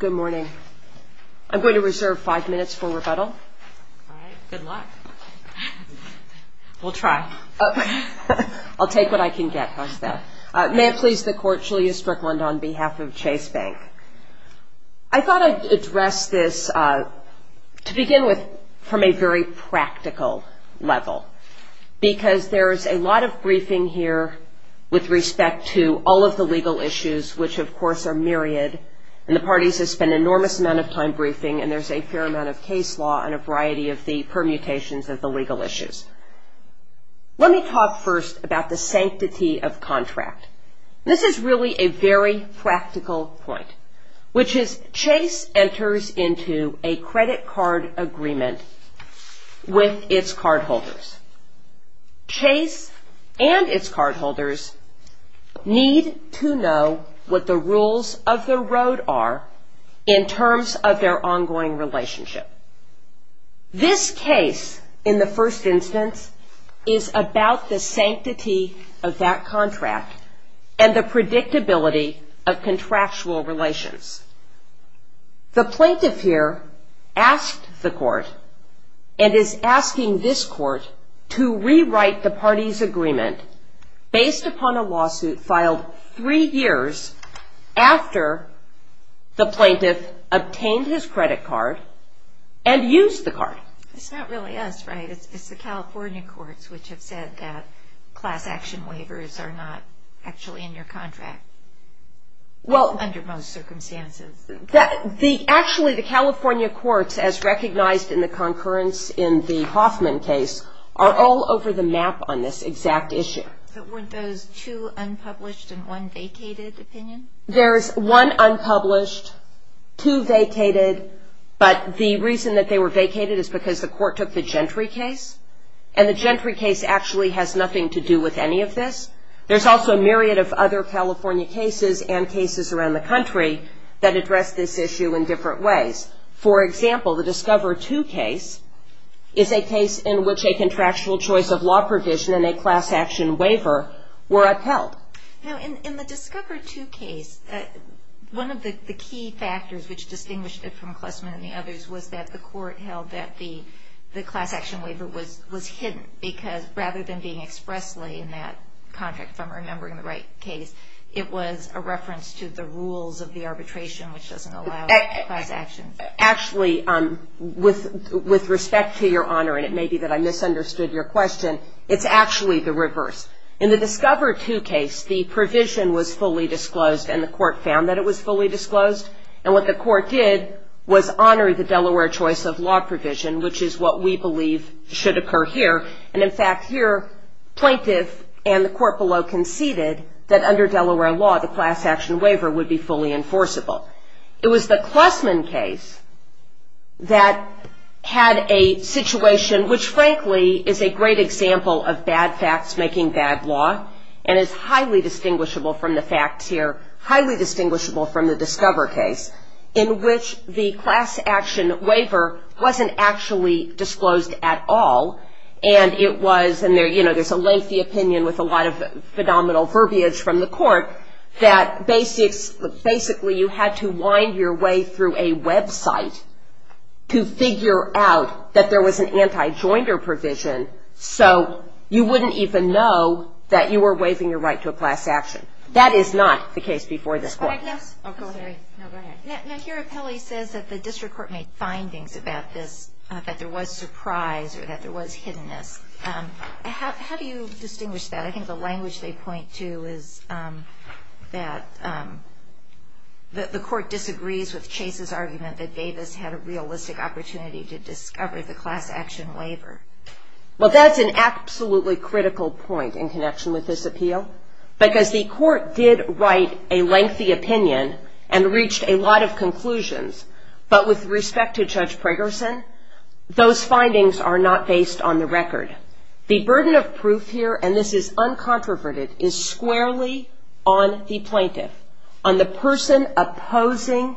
Good morning. I'm going to reserve five minutes for rebuttal. Good luck. We'll try. I'll take what I can get. May it please the Court, Julia Strickland on behalf of Chase Bank. I thought I'd address this to begin with from a very practical level because there is a lot of briefing here with respect to all of the legal issues, which of course are myriad, and the parties have spent an enormous amount of time briefing, and there's a fair amount of case law on a variety of the permutations of the legal issues. Let me talk first about the sanctity of contract. This is really a very practical point, which is Chase enters into a credit card agreement with its cardholders. Chase and its cardholders need to know what the rules of the road are in terms of their ongoing relationship. This case, in the first instance, is about the sanctity of that contract and the predictability of contractual relations. The plaintiff here asked the Court and is asking this Court to rewrite the party's agreement based upon a lawsuit filed three years after the plaintiff obtained his credit card and used the card. It's not really us, right? It's the California courts which have said that class action waivers are not actually in your contract, under most circumstances. Actually, the California courts, as recognized in the concurrence in the Hoffman case, are all over the map on this exact issue. But weren't those two unpublished and one vacated opinions? There's one unpublished, two vacated, but the reason that they were vacated is because the Court took the Gentry case, and the Gentry case actually has nothing to do with any of this. There's also a myriad of other California cases and cases around the country that address this issue in different ways. For example, the Discover II case is a case in which a contractual choice of law provision and a class action waiver were upheld. Now, in the Discover II case, one of the key factors which distinguished it from Klessman and the others was that the Court held that the class action waiver was hidden, because rather than being expressly in that contract, if I'm remembering the right case, it was a reference to the rules of the arbitration which doesn't allow class action. Actually, with respect to Your Honor, and it may be that I misunderstood your question, it's actually the reverse. In the Discover II case, the provision was fully disclosed, and the Court found that it was fully disclosed. And what the Court did was honor the Delaware choice of law provision, which is what we believe should occur here. And in fact, here, Plaintiff and the Court below conceded that under Delaware law, the class action waiver would be fully enforceable. It was the Klessman case that had a situation which, frankly, is a great example of bad facts making bad law, and is highly distinguishable from the facts here, highly distinguishable from the Discover case, in which the class action waiver wasn't actually disclosed at all. And it was, and there's a lengthy opinion with a lot of phenomenal verbiage from the Court, that basically you had to wind your way through a website to figure out that there was an anti-joinder provision so you wouldn't even know that you were waiving your right to a class action. That is not the case before this Court. Now, here, Appelli says that the District Court made findings about this, that there was surprise, or that there was hiddenness. How do you distinguish that? I think the language they point to is that the Court disagrees with Chase's argument that Davis had a realistic opportunity to discover the class action waiver. Well, that's an absolutely critical point in connection with this appeal, because the Court did write a lengthy opinion and reached a lot of conclusions, but with respect to Judge Pregerson, those findings are not based on the record. The burden of proof here, and this is uncontroverted, is squarely on the plaintiff, on the person opposing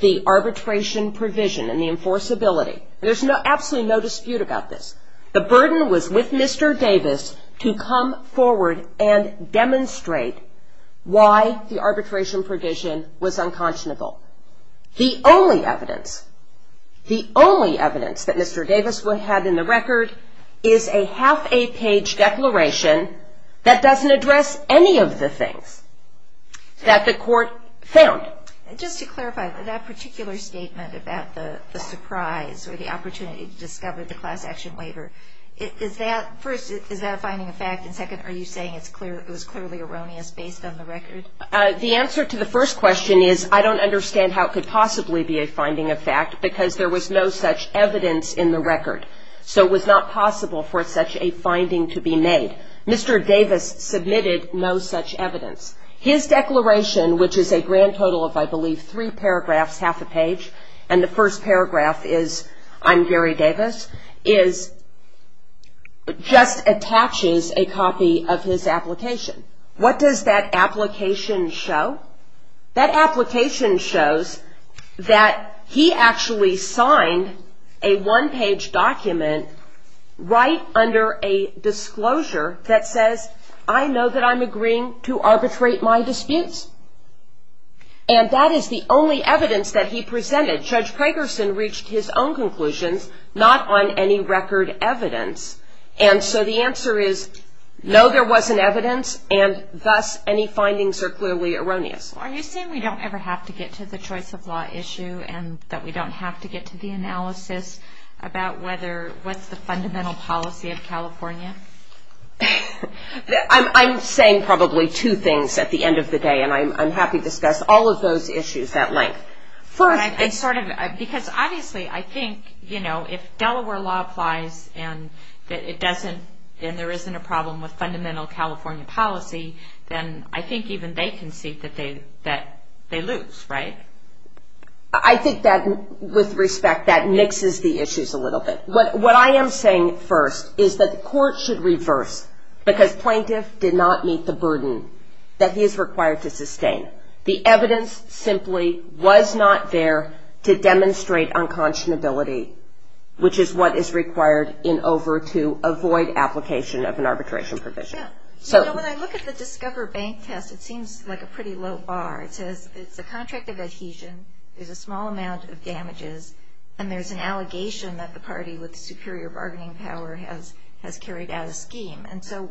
the arbitration provision and the enforceability. There's absolutely no dispute about this. The burden was with Mr. Davis to come forward and demonstrate why the arbitration provision was unconscionable. The only evidence that Mr. Davis had in the record is a half-a-page declaration that doesn't address any of the things that the Court found. Just to clarify, that particular statement about the surprise or the opportunity to discover the class action waiver, first, is that a finding of fact, and second, are you saying it was clearly erroneous based on the record? The answer to the first question is I don't understand how it could possibly be a finding of fact, because there was no such evidence in the record. So it was not possible for such a finding to be made. Mr. Davis submitted no such evidence. His declaration, which is a grand total of, I believe, three paragraphs, half a page, and the first paragraph is I'm Gary Davis, just attaches a copy of his application. What does that application show? That application shows that he actually signed a one-page document right under a disclosure that says I know that I'm agreeing to arbitrate my disputes. And that is the only evidence that he presented. Judge Pragerson reached his own conclusions, not on any record evidence. And so the answer is no, there wasn't evidence, and thus any findings are clearly erroneous. Are you saying we don't ever have to get to the choice of law issue, and that we don't have to get to the analysis about what's the fundamental policy of California? I'm saying probably two things at the end of the day, and I'm happy to discuss all of those issues at length. Because obviously I think, you know, if Delaware law applies and there isn't a problem with fundamental California policy, then I think even they can see that they lose, right? I think that with respect, that mixes the issues a little bit. What I am saying first is that the court should reverse, because plaintiff did not meet the burden that he is required to sustain. The evidence simply was not there to demonstrate unconscionability, which is what is required in over to avoid application of an arbitration provision. When I look at the Discover Bank test, it seems like a pretty low bar. It says it's a contract of adhesion, there's a small amount of damages, and there's an allegation that the party with superior bargaining power has carried out a scheme. And so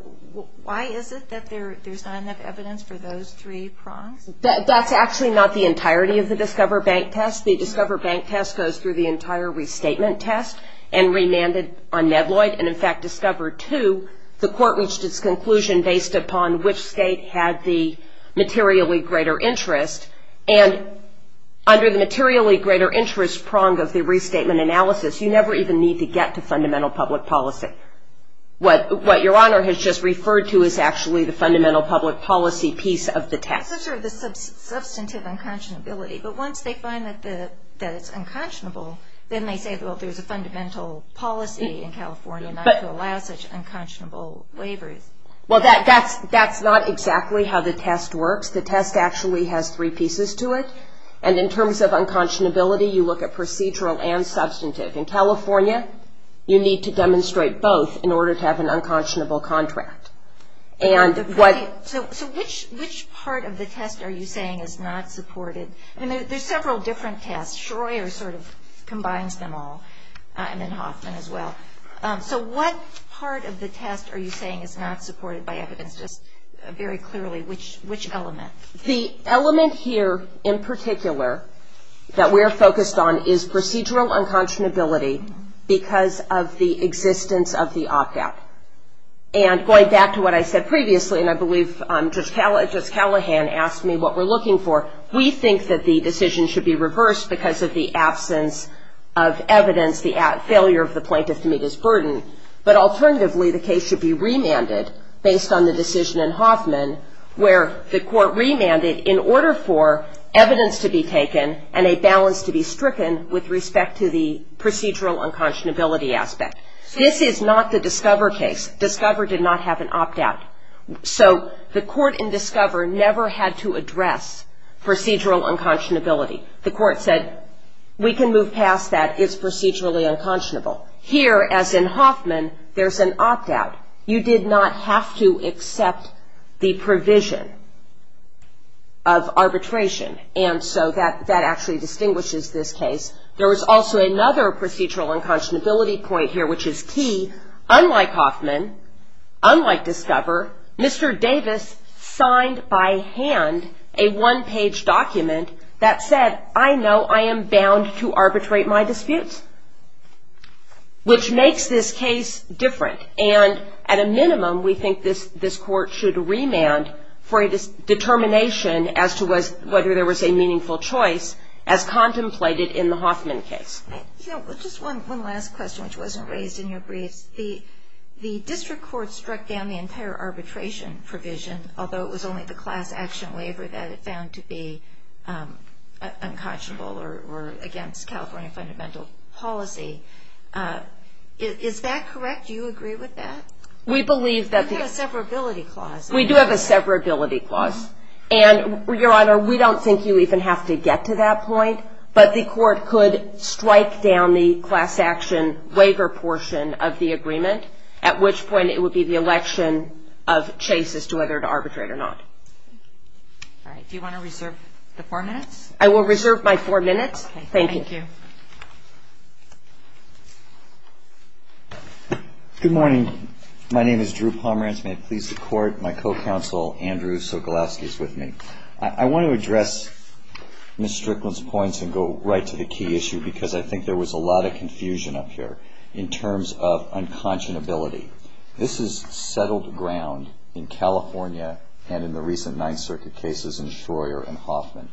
why is it that there's not enough evidence for those three prongs? That's actually not the entirety of the Discover Bank test. The Discover Bank test goes through the entire restatement test, and remanded on Nedloyd, and in fact, Discover 2, the court reached its conclusion based upon which state had the materially greater interest. And under the materially greater interest prong of the restatement analysis, you never even need to get to fundamental public policy. What Your Honor has just referred to is actually the fundamental public policy piece of the test. It's sort of the substantive unconscionability, but once they find that it's unconscionable, then they say, well, there's a fundamental policy in California not to allow such unconscionable waivers. Well, that's not exactly how the test works. The test actually has three pieces to it, and in terms of unconscionability, you look at procedural and substantive. In California, you need to demonstrate both in order to have an unconscionable contract. So which part of the test are you saying is not supported? I mean, there's several different tests. Schroyer sort of combines them all, and then Hoffman as well. So what part of the test are you saying is not supported by evidence? Just very clearly, which element? The element here in particular that we're focused on is procedural unconscionability because of the existence of the opt-out. And going back to what I said previously, and I believe Judge Callahan asked me what we're looking for, we think that the decision should be reversed because of the absence of evidence, the failure of the plaintiff to meet his burden, but alternatively the case should be remanded based on the decision in Hoffman where the court remanded in order for evidence to be taken and a balance to be stricken with respect to the procedural unconscionability aspect. This is not the Discover case. Discover did not have an opt-out. So the court in Discover never had to address procedural unconscionability. The court said we can move past that, it's procedurally unconscionable. Here, as in Hoffman, there's an opt-out. You did not have to accept the provision of arbitration, and so that actually distinguishes this case. There was also another procedural unconscionability point here which is key. Unlike Hoffman, unlike Discover, Mr. Davis signed by hand a one-page document that said, I know I am bound to arbitrate my disputes, which makes this case different, and at a minimum, we think this court should remand for a determination as to whether there was a meaningful choice as contemplated in the Hoffman case. Just one last question, which wasn't raised in your briefs. The district court struck down the entire arbitration provision, although it was only the class action waiver that it found to be unconscionable or against California fundamental policy. Is that correct? Do you agree with that? We do have a severability clause, and, Your Honor, we don't think you even have to get to that point, but the court could strike down the class action waiver portion of the agreement, at which point it would be the election of Chase as to whether to arbitrate or not. Do you want to reserve the four minutes? I will reserve my four minutes. Thank you. Good morning. My name is Drew Pomerantz. May it please the Court, my co-counsel Andrew Sokolowski is with me. I want to address Ms. Strickland's points and go right to the key issue, because I think there was a lot of confusion up here in terms of unconscionability. This is settled ground in California and in the recent Ninth Circuit cases in Shroyer and Hoffman.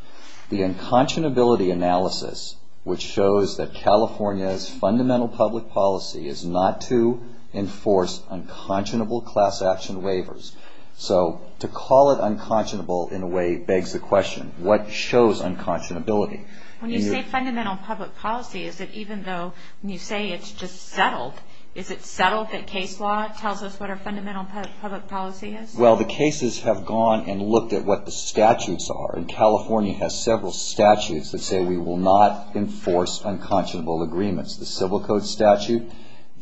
The unconscionability analysis, which shows that California's fundamental public policy is not to enforce unconscionable class action waivers. So to call it unconscionable in a way begs the question, what shows unconscionability? When you say fundamental public policy, is it even though when you say it's just settled, is it settled that case law tells us what our fundamental public policy is? Well, the cases have gone and looked at what the statutes are, and California has several statutes that say we will not enforce unconscionable agreements. The Civil Code statute,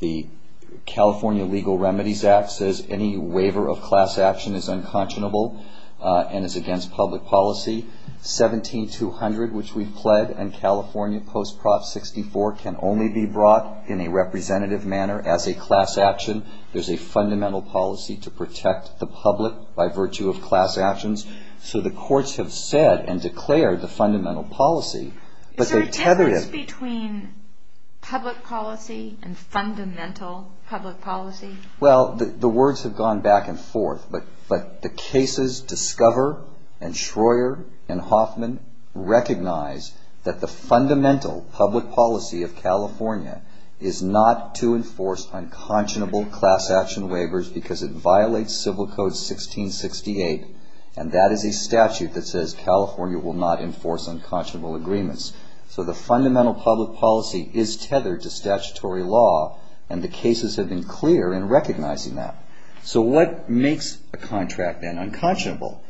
the California Legal Remedies Act says any waiver of class action is unconscionable and is against public policy. 17200, which we've pled, and California Post Prop 64 can only be brought in a representative manner as a class action. There's a fundamental policy to protect the public by virtue of class actions. So the courts have said and declared the fundamental policy, but they've tethered it. Is there a difference between public policy and fundamental public policy? Well, the words have gone back and forth, but the cases Discover and Schroer and Hoffman recognize that the fundamental public policy of California is not to enforce unconscionable class action waivers because it violates Civil Code 1668, and that is a statute that says California will not enforce unconscionable agreements. So the fundamental public policy is tethered to statutory law, and the cases have been clear in recognizing that. So what makes a contract then unconscionable?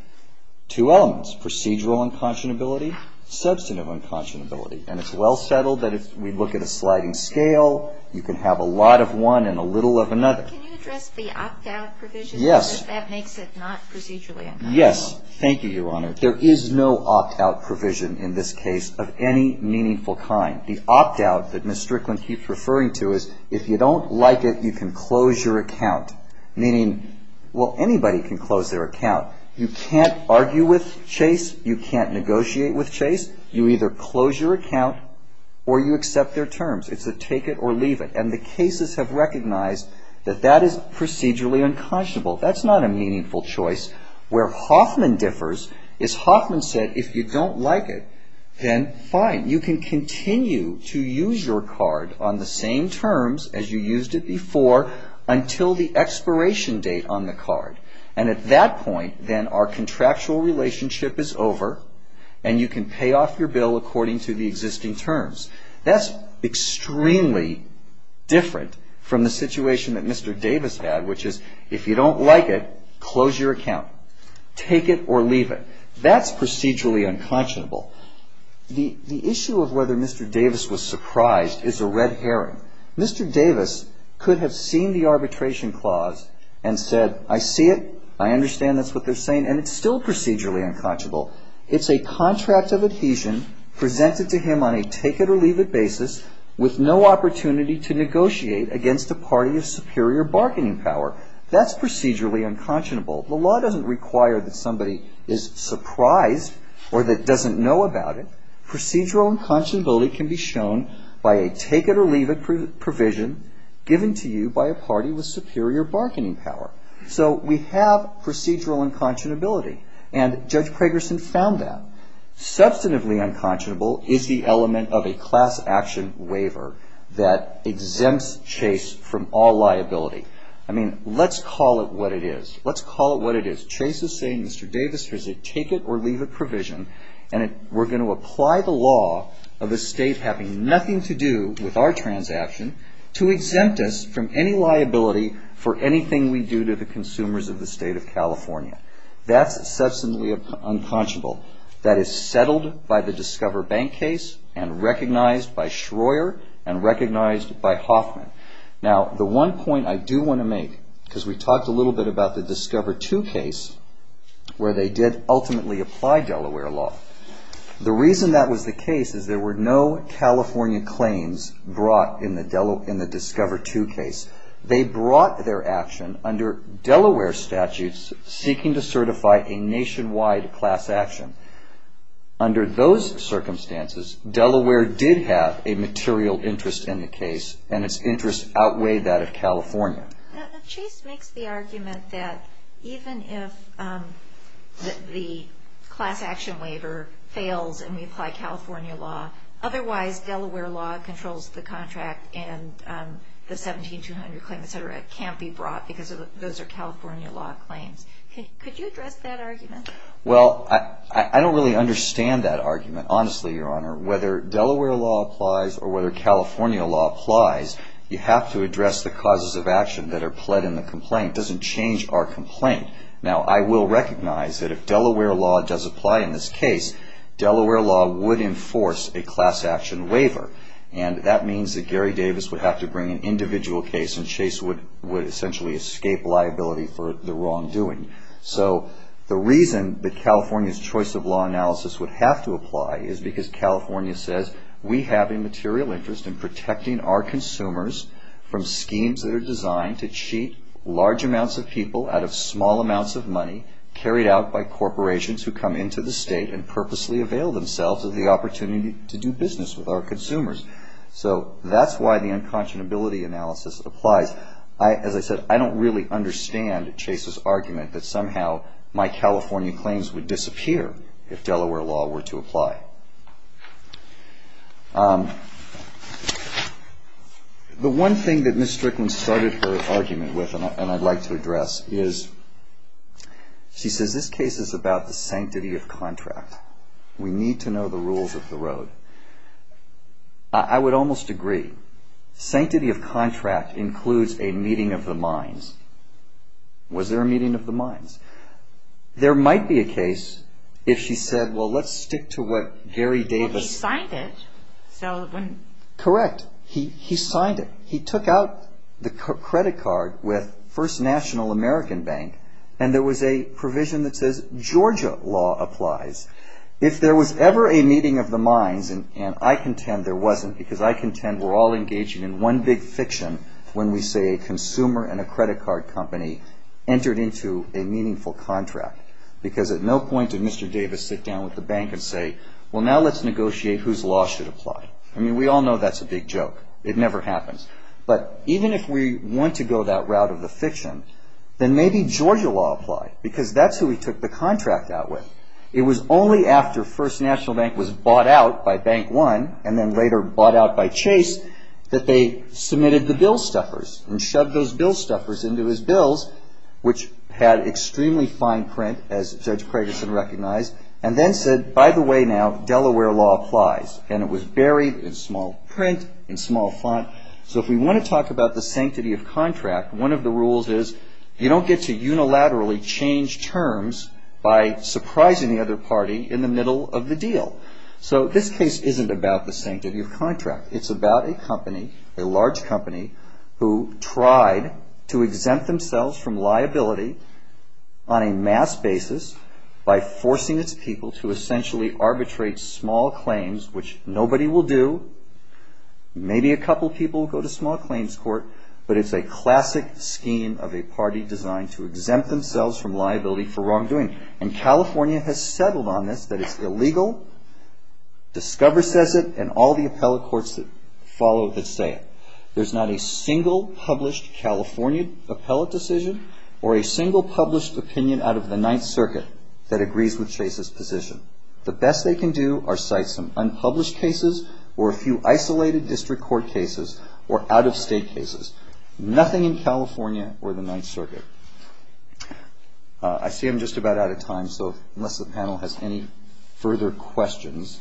Two elements, procedural unconscionability, substantive unconscionability. And it's well settled that if we look at a sliding scale, you can have a lot of one and a little of another. Can you address the opt-out provision? Yes. There is no opt-out provision in this case of any meaningful kind. The opt-out that Ms. Strickland keeps referring to is if you don't like it, you can close your account. Meaning, well, anybody can close their account. You can't argue with Chase, you can't negotiate with Chase. You either close your account or you accept their terms. It's a take it or leave it, and the cases have recognized that that is procedurally unconscionable. That's not a meaningful choice. Where Hoffman differs is Hoffman said if you don't like it, then fine. You can continue to use your card on the same terms as you used it before until the expiration date on the card. And at that point, then our contractual relationship is over, and you can pay off your bill according to the existing terms. That's extremely different from the situation that Mr. Davis had, which is if you don't like it, close your account. Take it or leave it. That's procedurally unconscionable. The issue of whether Mr. Davis was surprised is a red herring. Mr. Davis could have seen the arbitration clause and said, I see it, I understand that's what they're saying, and it's still procedurally unconscionable. It's a contract of adhesion presented to him on a take it or leave it basis with no opportunity to negotiate against a party of superior bargaining power. That's procedurally unconscionable. If you don't know about it, procedural unconscionability can be shown by a take it or leave it provision given to you by a party with superior bargaining power. So we have procedural unconscionability, and Judge Kragerson found that. Substantively unconscionable is the element of a class action waiver that exempts Chase from all liability. I mean, let's call it what it is. Chase is saying, Mr. Davis, there's a take it or leave it provision, and we're going to apply the law of the state having nothing to do with our transaction to exempt us from any liability for anything we do to the consumers of the state of California. That's substantially unconscionable. That is settled by the Discover Bank case and recognized by Schroer and recognized by Hoffman. Now, the one point I do want to make, because we talked a little bit about the Discover II case, where they did ultimately apply Delaware law. The reason that was the case is there were no California claims brought in the Discover II case. They brought their action under Delaware statutes seeking to certify a nationwide class action. Under those circumstances, Delaware did have a material interest in the case, and it's interested in the case. The interest outweighed that of California. Now, Chase makes the argument that even if the class action waiver fails and we apply California law, otherwise Delaware law controls the contract and the 17-200 claim, et cetera, can't be brought because those are California law claims. Well, I don't really understand that argument, honestly, Your Honor. Whether Delaware law applies or whether California law applies, you have to address the causes of action that are pled in the complaint. It doesn't change our complaint. Now, I will recognize that if Delaware law does apply in this case, Delaware law would enforce a class action waiver, and that means that Gary Davis would have to bring an individual case and Chase would essentially escape liability for the wrongdoing. So the reason that California's choice of law analysis would have to apply is because California says we have a material interest in protecting our consumers from schemes that are designed to cheat large amounts of people out of small amounts of money carried out by corporations who come into the state and purposely avail themselves of the opportunity to do business with our consumers. So that's why the unconscionability analysis applies. As I said, I don't really understand Chase's argument that somehow my California claims would disappear if Delaware law were to apply. The one thing that Ms. Strickland started her argument with and I'd like to address is she says this case is about the sanctity of contract. We need to know the rules of the road. I would almost agree. Sanctity of contract includes a meeting of the minds. Was there a meeting of the minds? There might be a case if she said, well, let's stick to what Gary Davis... Correct. He signed it. He took out the credit card with First National American Bank and there was a provision that says Georgia law applies. If there was ever a meeting of the minds, and I contend there wasn't because I contend we're all engaging in one big fiction when we say a consumer and a credit card company entered into a meaningful contract. Because at no point did Mr. Davis sit down with the bank and say, well, now let's negotiate whose law should apply. I mean, we all know that's a big joke. It never happens. But even if we want to go that route of the fiction, then maybe Georgia law apply because that's who he took the contract out with. It was only after First National Bank was bought out by Bank One and then later bought out by Chase that they submitted the bill stuffers and shoved those bill stuffers into his bills, which had extremely fine print, as Judge Cragerson recognized, and then said, by the way, now, Delaware law applies. And it was buried in small print, in small font. So if we want to talk about the sanctity of contract, one of the rules is you don't get to unilaterally change terms by surprising the other party in the middle of the deal. So this case isn't about the sanctity of contract. It's about a company, a large company, who tried to exempt themselves from liability on a mass basis by forcing its people to essentially arbitrate small claims, which nobody will do, maybe a couple people will go to small claims court, but it's a classic scheme of a party designed to exempt themselves from liability for wrongdoing. And California has settled on this, that it's illegal, Discover says it, and all the appellate courts that follow it that say it. There's not a single published California appellate decision or a single published opinion out of the Ninth Circuit that agrees with Chase's position. The best they can do are cite some unpublished cases or a few isolated district court cases or out-of-state cases. Nothing in California or the Ninth Circuit. I see I'm just about out of time, so unless the panel has any further questions.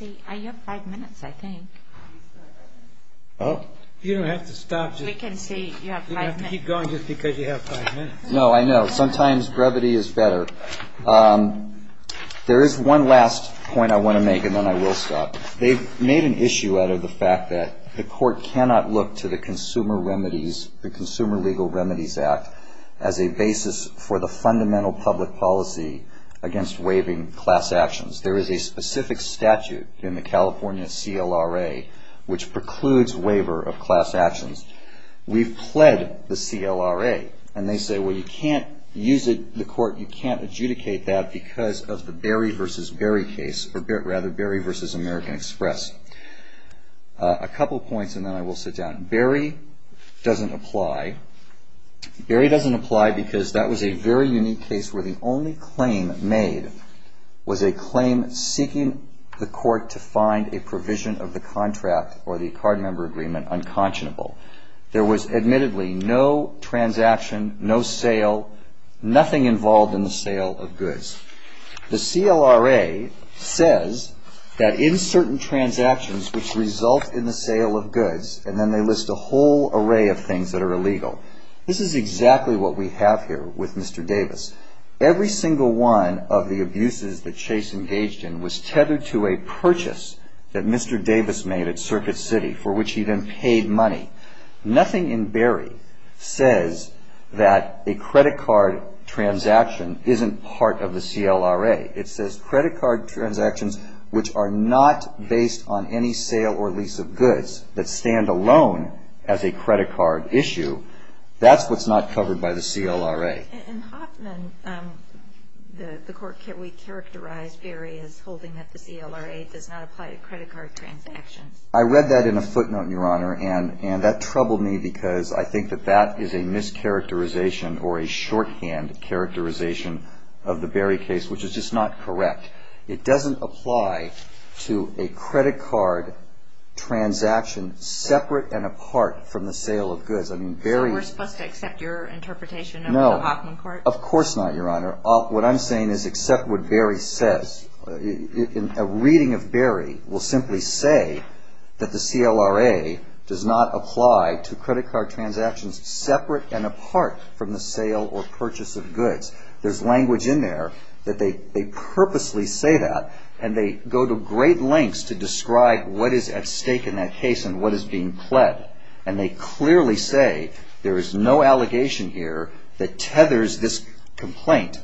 You have five minutes, I think. You don't have to stop. We can see you have five minutes. No, I know. Sometimes brevity is better. There is one last point I want to make and then I will stop. They've made an issue out of the fact that the court cannot look to the Consumer Legal Remedies Act as a basis for the fundamental public policy against waiving class actions. There is a specific statute in the California CLRA which precludes waiver of class actions. We've pled the CLRA and they say, well, you can't use it in the court, you can't adjudicate that because of the Berry v. Berry case, or rather Berry v. American Express. A couple points and then I will sit down. Berry doesn't apply because that was a very unique case where the only claim made was a claim seeking the court to find a provision of the contract or the card member agreement unconscionable. There was admittedly no transaction, no sale, nothing involved in the sale of goods. The CLRA says that in certain transactions which result in the sale of goods and then they list a whole array of things that are illegal. This is exactly what we have here with Mr. Davis. Every single one of the abuses that Chase engaged in was tethered to a purchase that Mr. Davis made at Circuit City for which he then paid money. Nothing in Berry says that a credit card transaction isn't part of the CLRA. It says credit card transactions which are not based on any sale or lease of goods that stand alone as a credit card issue. That's what's not covered by the CLRA. In Hoffman, the court characterized Berry as holding that the CLRA does not apply to credit card transactions. I read that in a footnote, Your Honor, and that troubled me because I think that that is a mischaracterization or a shorthand characterization of the Berry case, which is just not correct. It doesn't apply to a credit card transaction separate and apart from the sale of goods. So we're supposed to accept your interpretation of the Hoffman court? No, of course not, Your Honor. What I'm saying is accept what Berry says. A reading of Berry will simply say that the CLRA does not apply to credit card transactions separate and apart from the sale or purchase of goods. There's language in there that they purposely say that and they go to great lengths to describe what is at stake in that case and what is being pled. And they clearly say there is no allegation here that tethers this complaint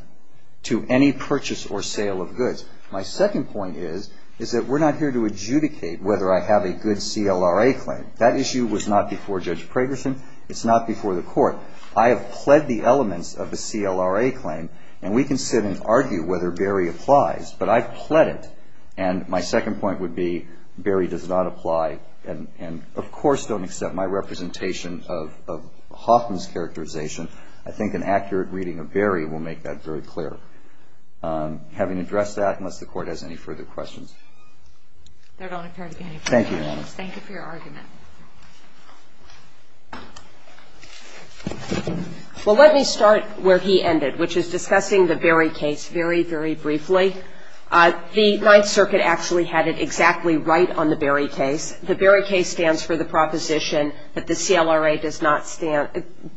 to any purchase or sale of goods. My second point is that we're not here to adjudicate whether I have a good CLRA claim. That issue was not before Judge Pragerson. It's not before the court. I have pled the elements of the CLRA claim and we can sit and argue whether Berry applies, but I've pled it. And my second point would be Berry does not apply and, of course, don't accept my representation of Hoffman's characterization. I think an accurate reading of Berry will make that very clear. Having addressed that, unless the Court has any further questions. Thank you, Your Honor. Thank you for your argument. Well, let me start where he ended, which is discussing the Berry case very, very briefly. The Ninth Circuit actually had it exactly right on the Berry case. The Berry case stands for the proposition that the CLRA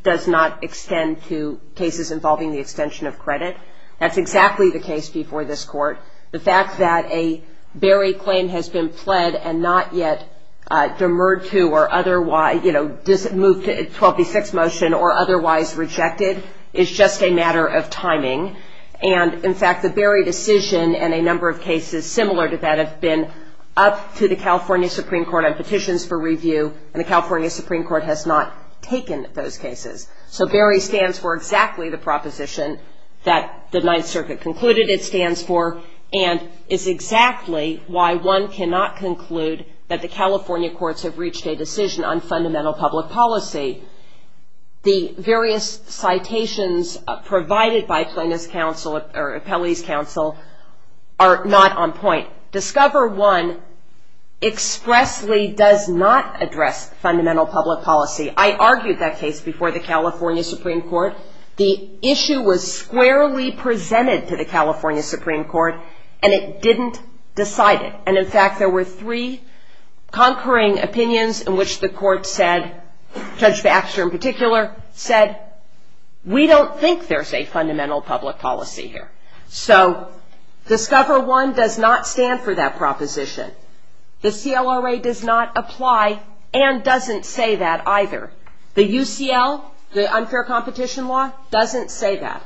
does not extend to cases involving the extension of credit. That's exactly the case before this Court. The fact that a Berry claim has been pled and not yet demurred to or otherwise, you know, moved to a 12B6 motion or otherwise rejected is just a matter of timing. And, in fact, the Berry decision and a number of cases similar to that have been up to the California Supreme Court on petitions for review, and the California Supreme Court has not taken those cases. So Berry stands for exactly the proposition that the Ninth Circuit concluded it stands for and is exactly why one cannot conclude that the California courts have reached a decision on fundamental public policy. The various citations provided by Plaintiff's counsel or Appellee's counsel are not on point. Discover I expressly does not address fundamental public policy. I argued that case before the California Supreme Court. The issue was squarely presented to the California Supreme Court, and it didn't decide it. And, in fact, there were three conquering opinions in which the court said, Judge Baxter in particular, said we don't think there's a fundamental public policy here. So Discover I does not stand for that proposition. The CLRA does not apply and doesn't say that either. The UCL, the unfair competition law, doesn't say that.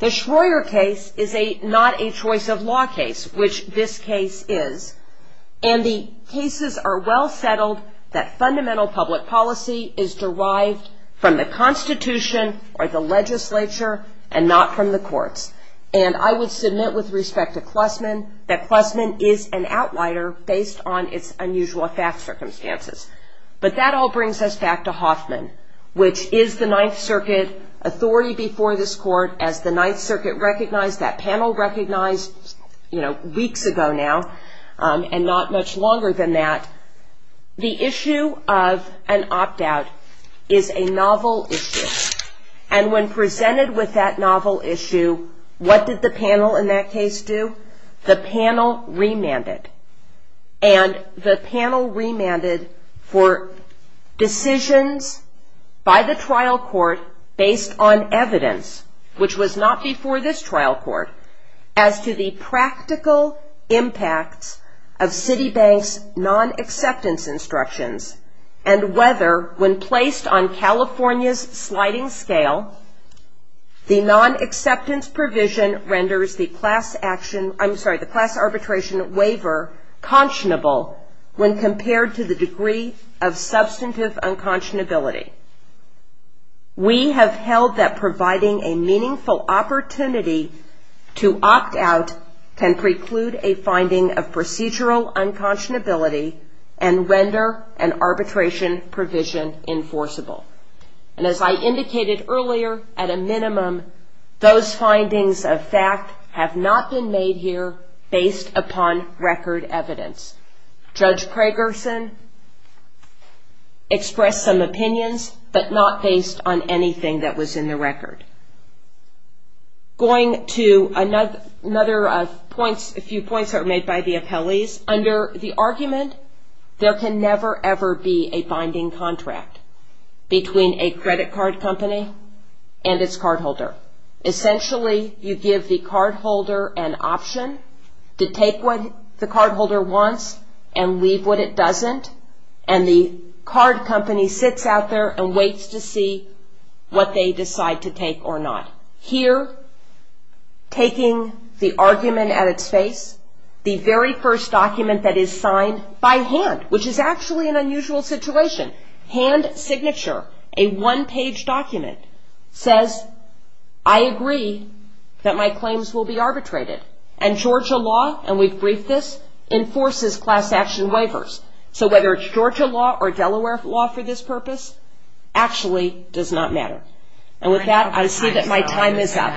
The Schroer case is not a choice of law case, which this case is. And the cases are well settled that fundamental public policy is derived from the Constitution or the legislature and not from the courts. And I would submit with respect to Klusman that Klusman is an outlier based on its unusual fact circumstances. But that all brings us back to Hoffman, which is the Ninth Circuit authority before this court as the Ninth Circuit recognized, that panel recognized, you know, weeks ago now and not much longer than that. The issue of an opt-out is a novel issue. And when presented with that novel issue, what did the panel in that case do? The panel remanded. And the panel remanded for decisions by the trial court based on evidence, which was not before this trial court, as to the practical impacts of Citibank's non-acceptance instructions and whether when placed on California's sliding scale, the non-acceptance provision renders the class action, I'm sorry, the class arbitration waiver conscionable when compared to the degree of substantive unconscionability. We have held that providing a meaningful opportunity to opt-out can preclude a finding of procedural unconscionability and render an arbitration provision enforceable. And as I indicated earlier, at a minimum, those findings of fact have not been made here based upon record evidence. Judge Kragerson expressed some opinions, but not based on anything that was in the record. Going to another points, a few points that were made by the appellees, under the argument, there can never ever be a binding contract between a credit card company and its cardholder. Essentially, you give the cardholder an option to take what the cardholder wants and leave what it doesn't, and the card company sits out there and waits to see what they decide to take or not. Here, taking the argument at its face, the very first document that is signed by hand, which is actually an unusual situation, hand signature, a one-page document, says, I agree that my claims will be arbitrated. And Georgia law, and we've briefed this, enforces class action waivers. So whether it's Georgia law or Delaware law for this purpose, actually does not matter. And with that, I see that my time is up.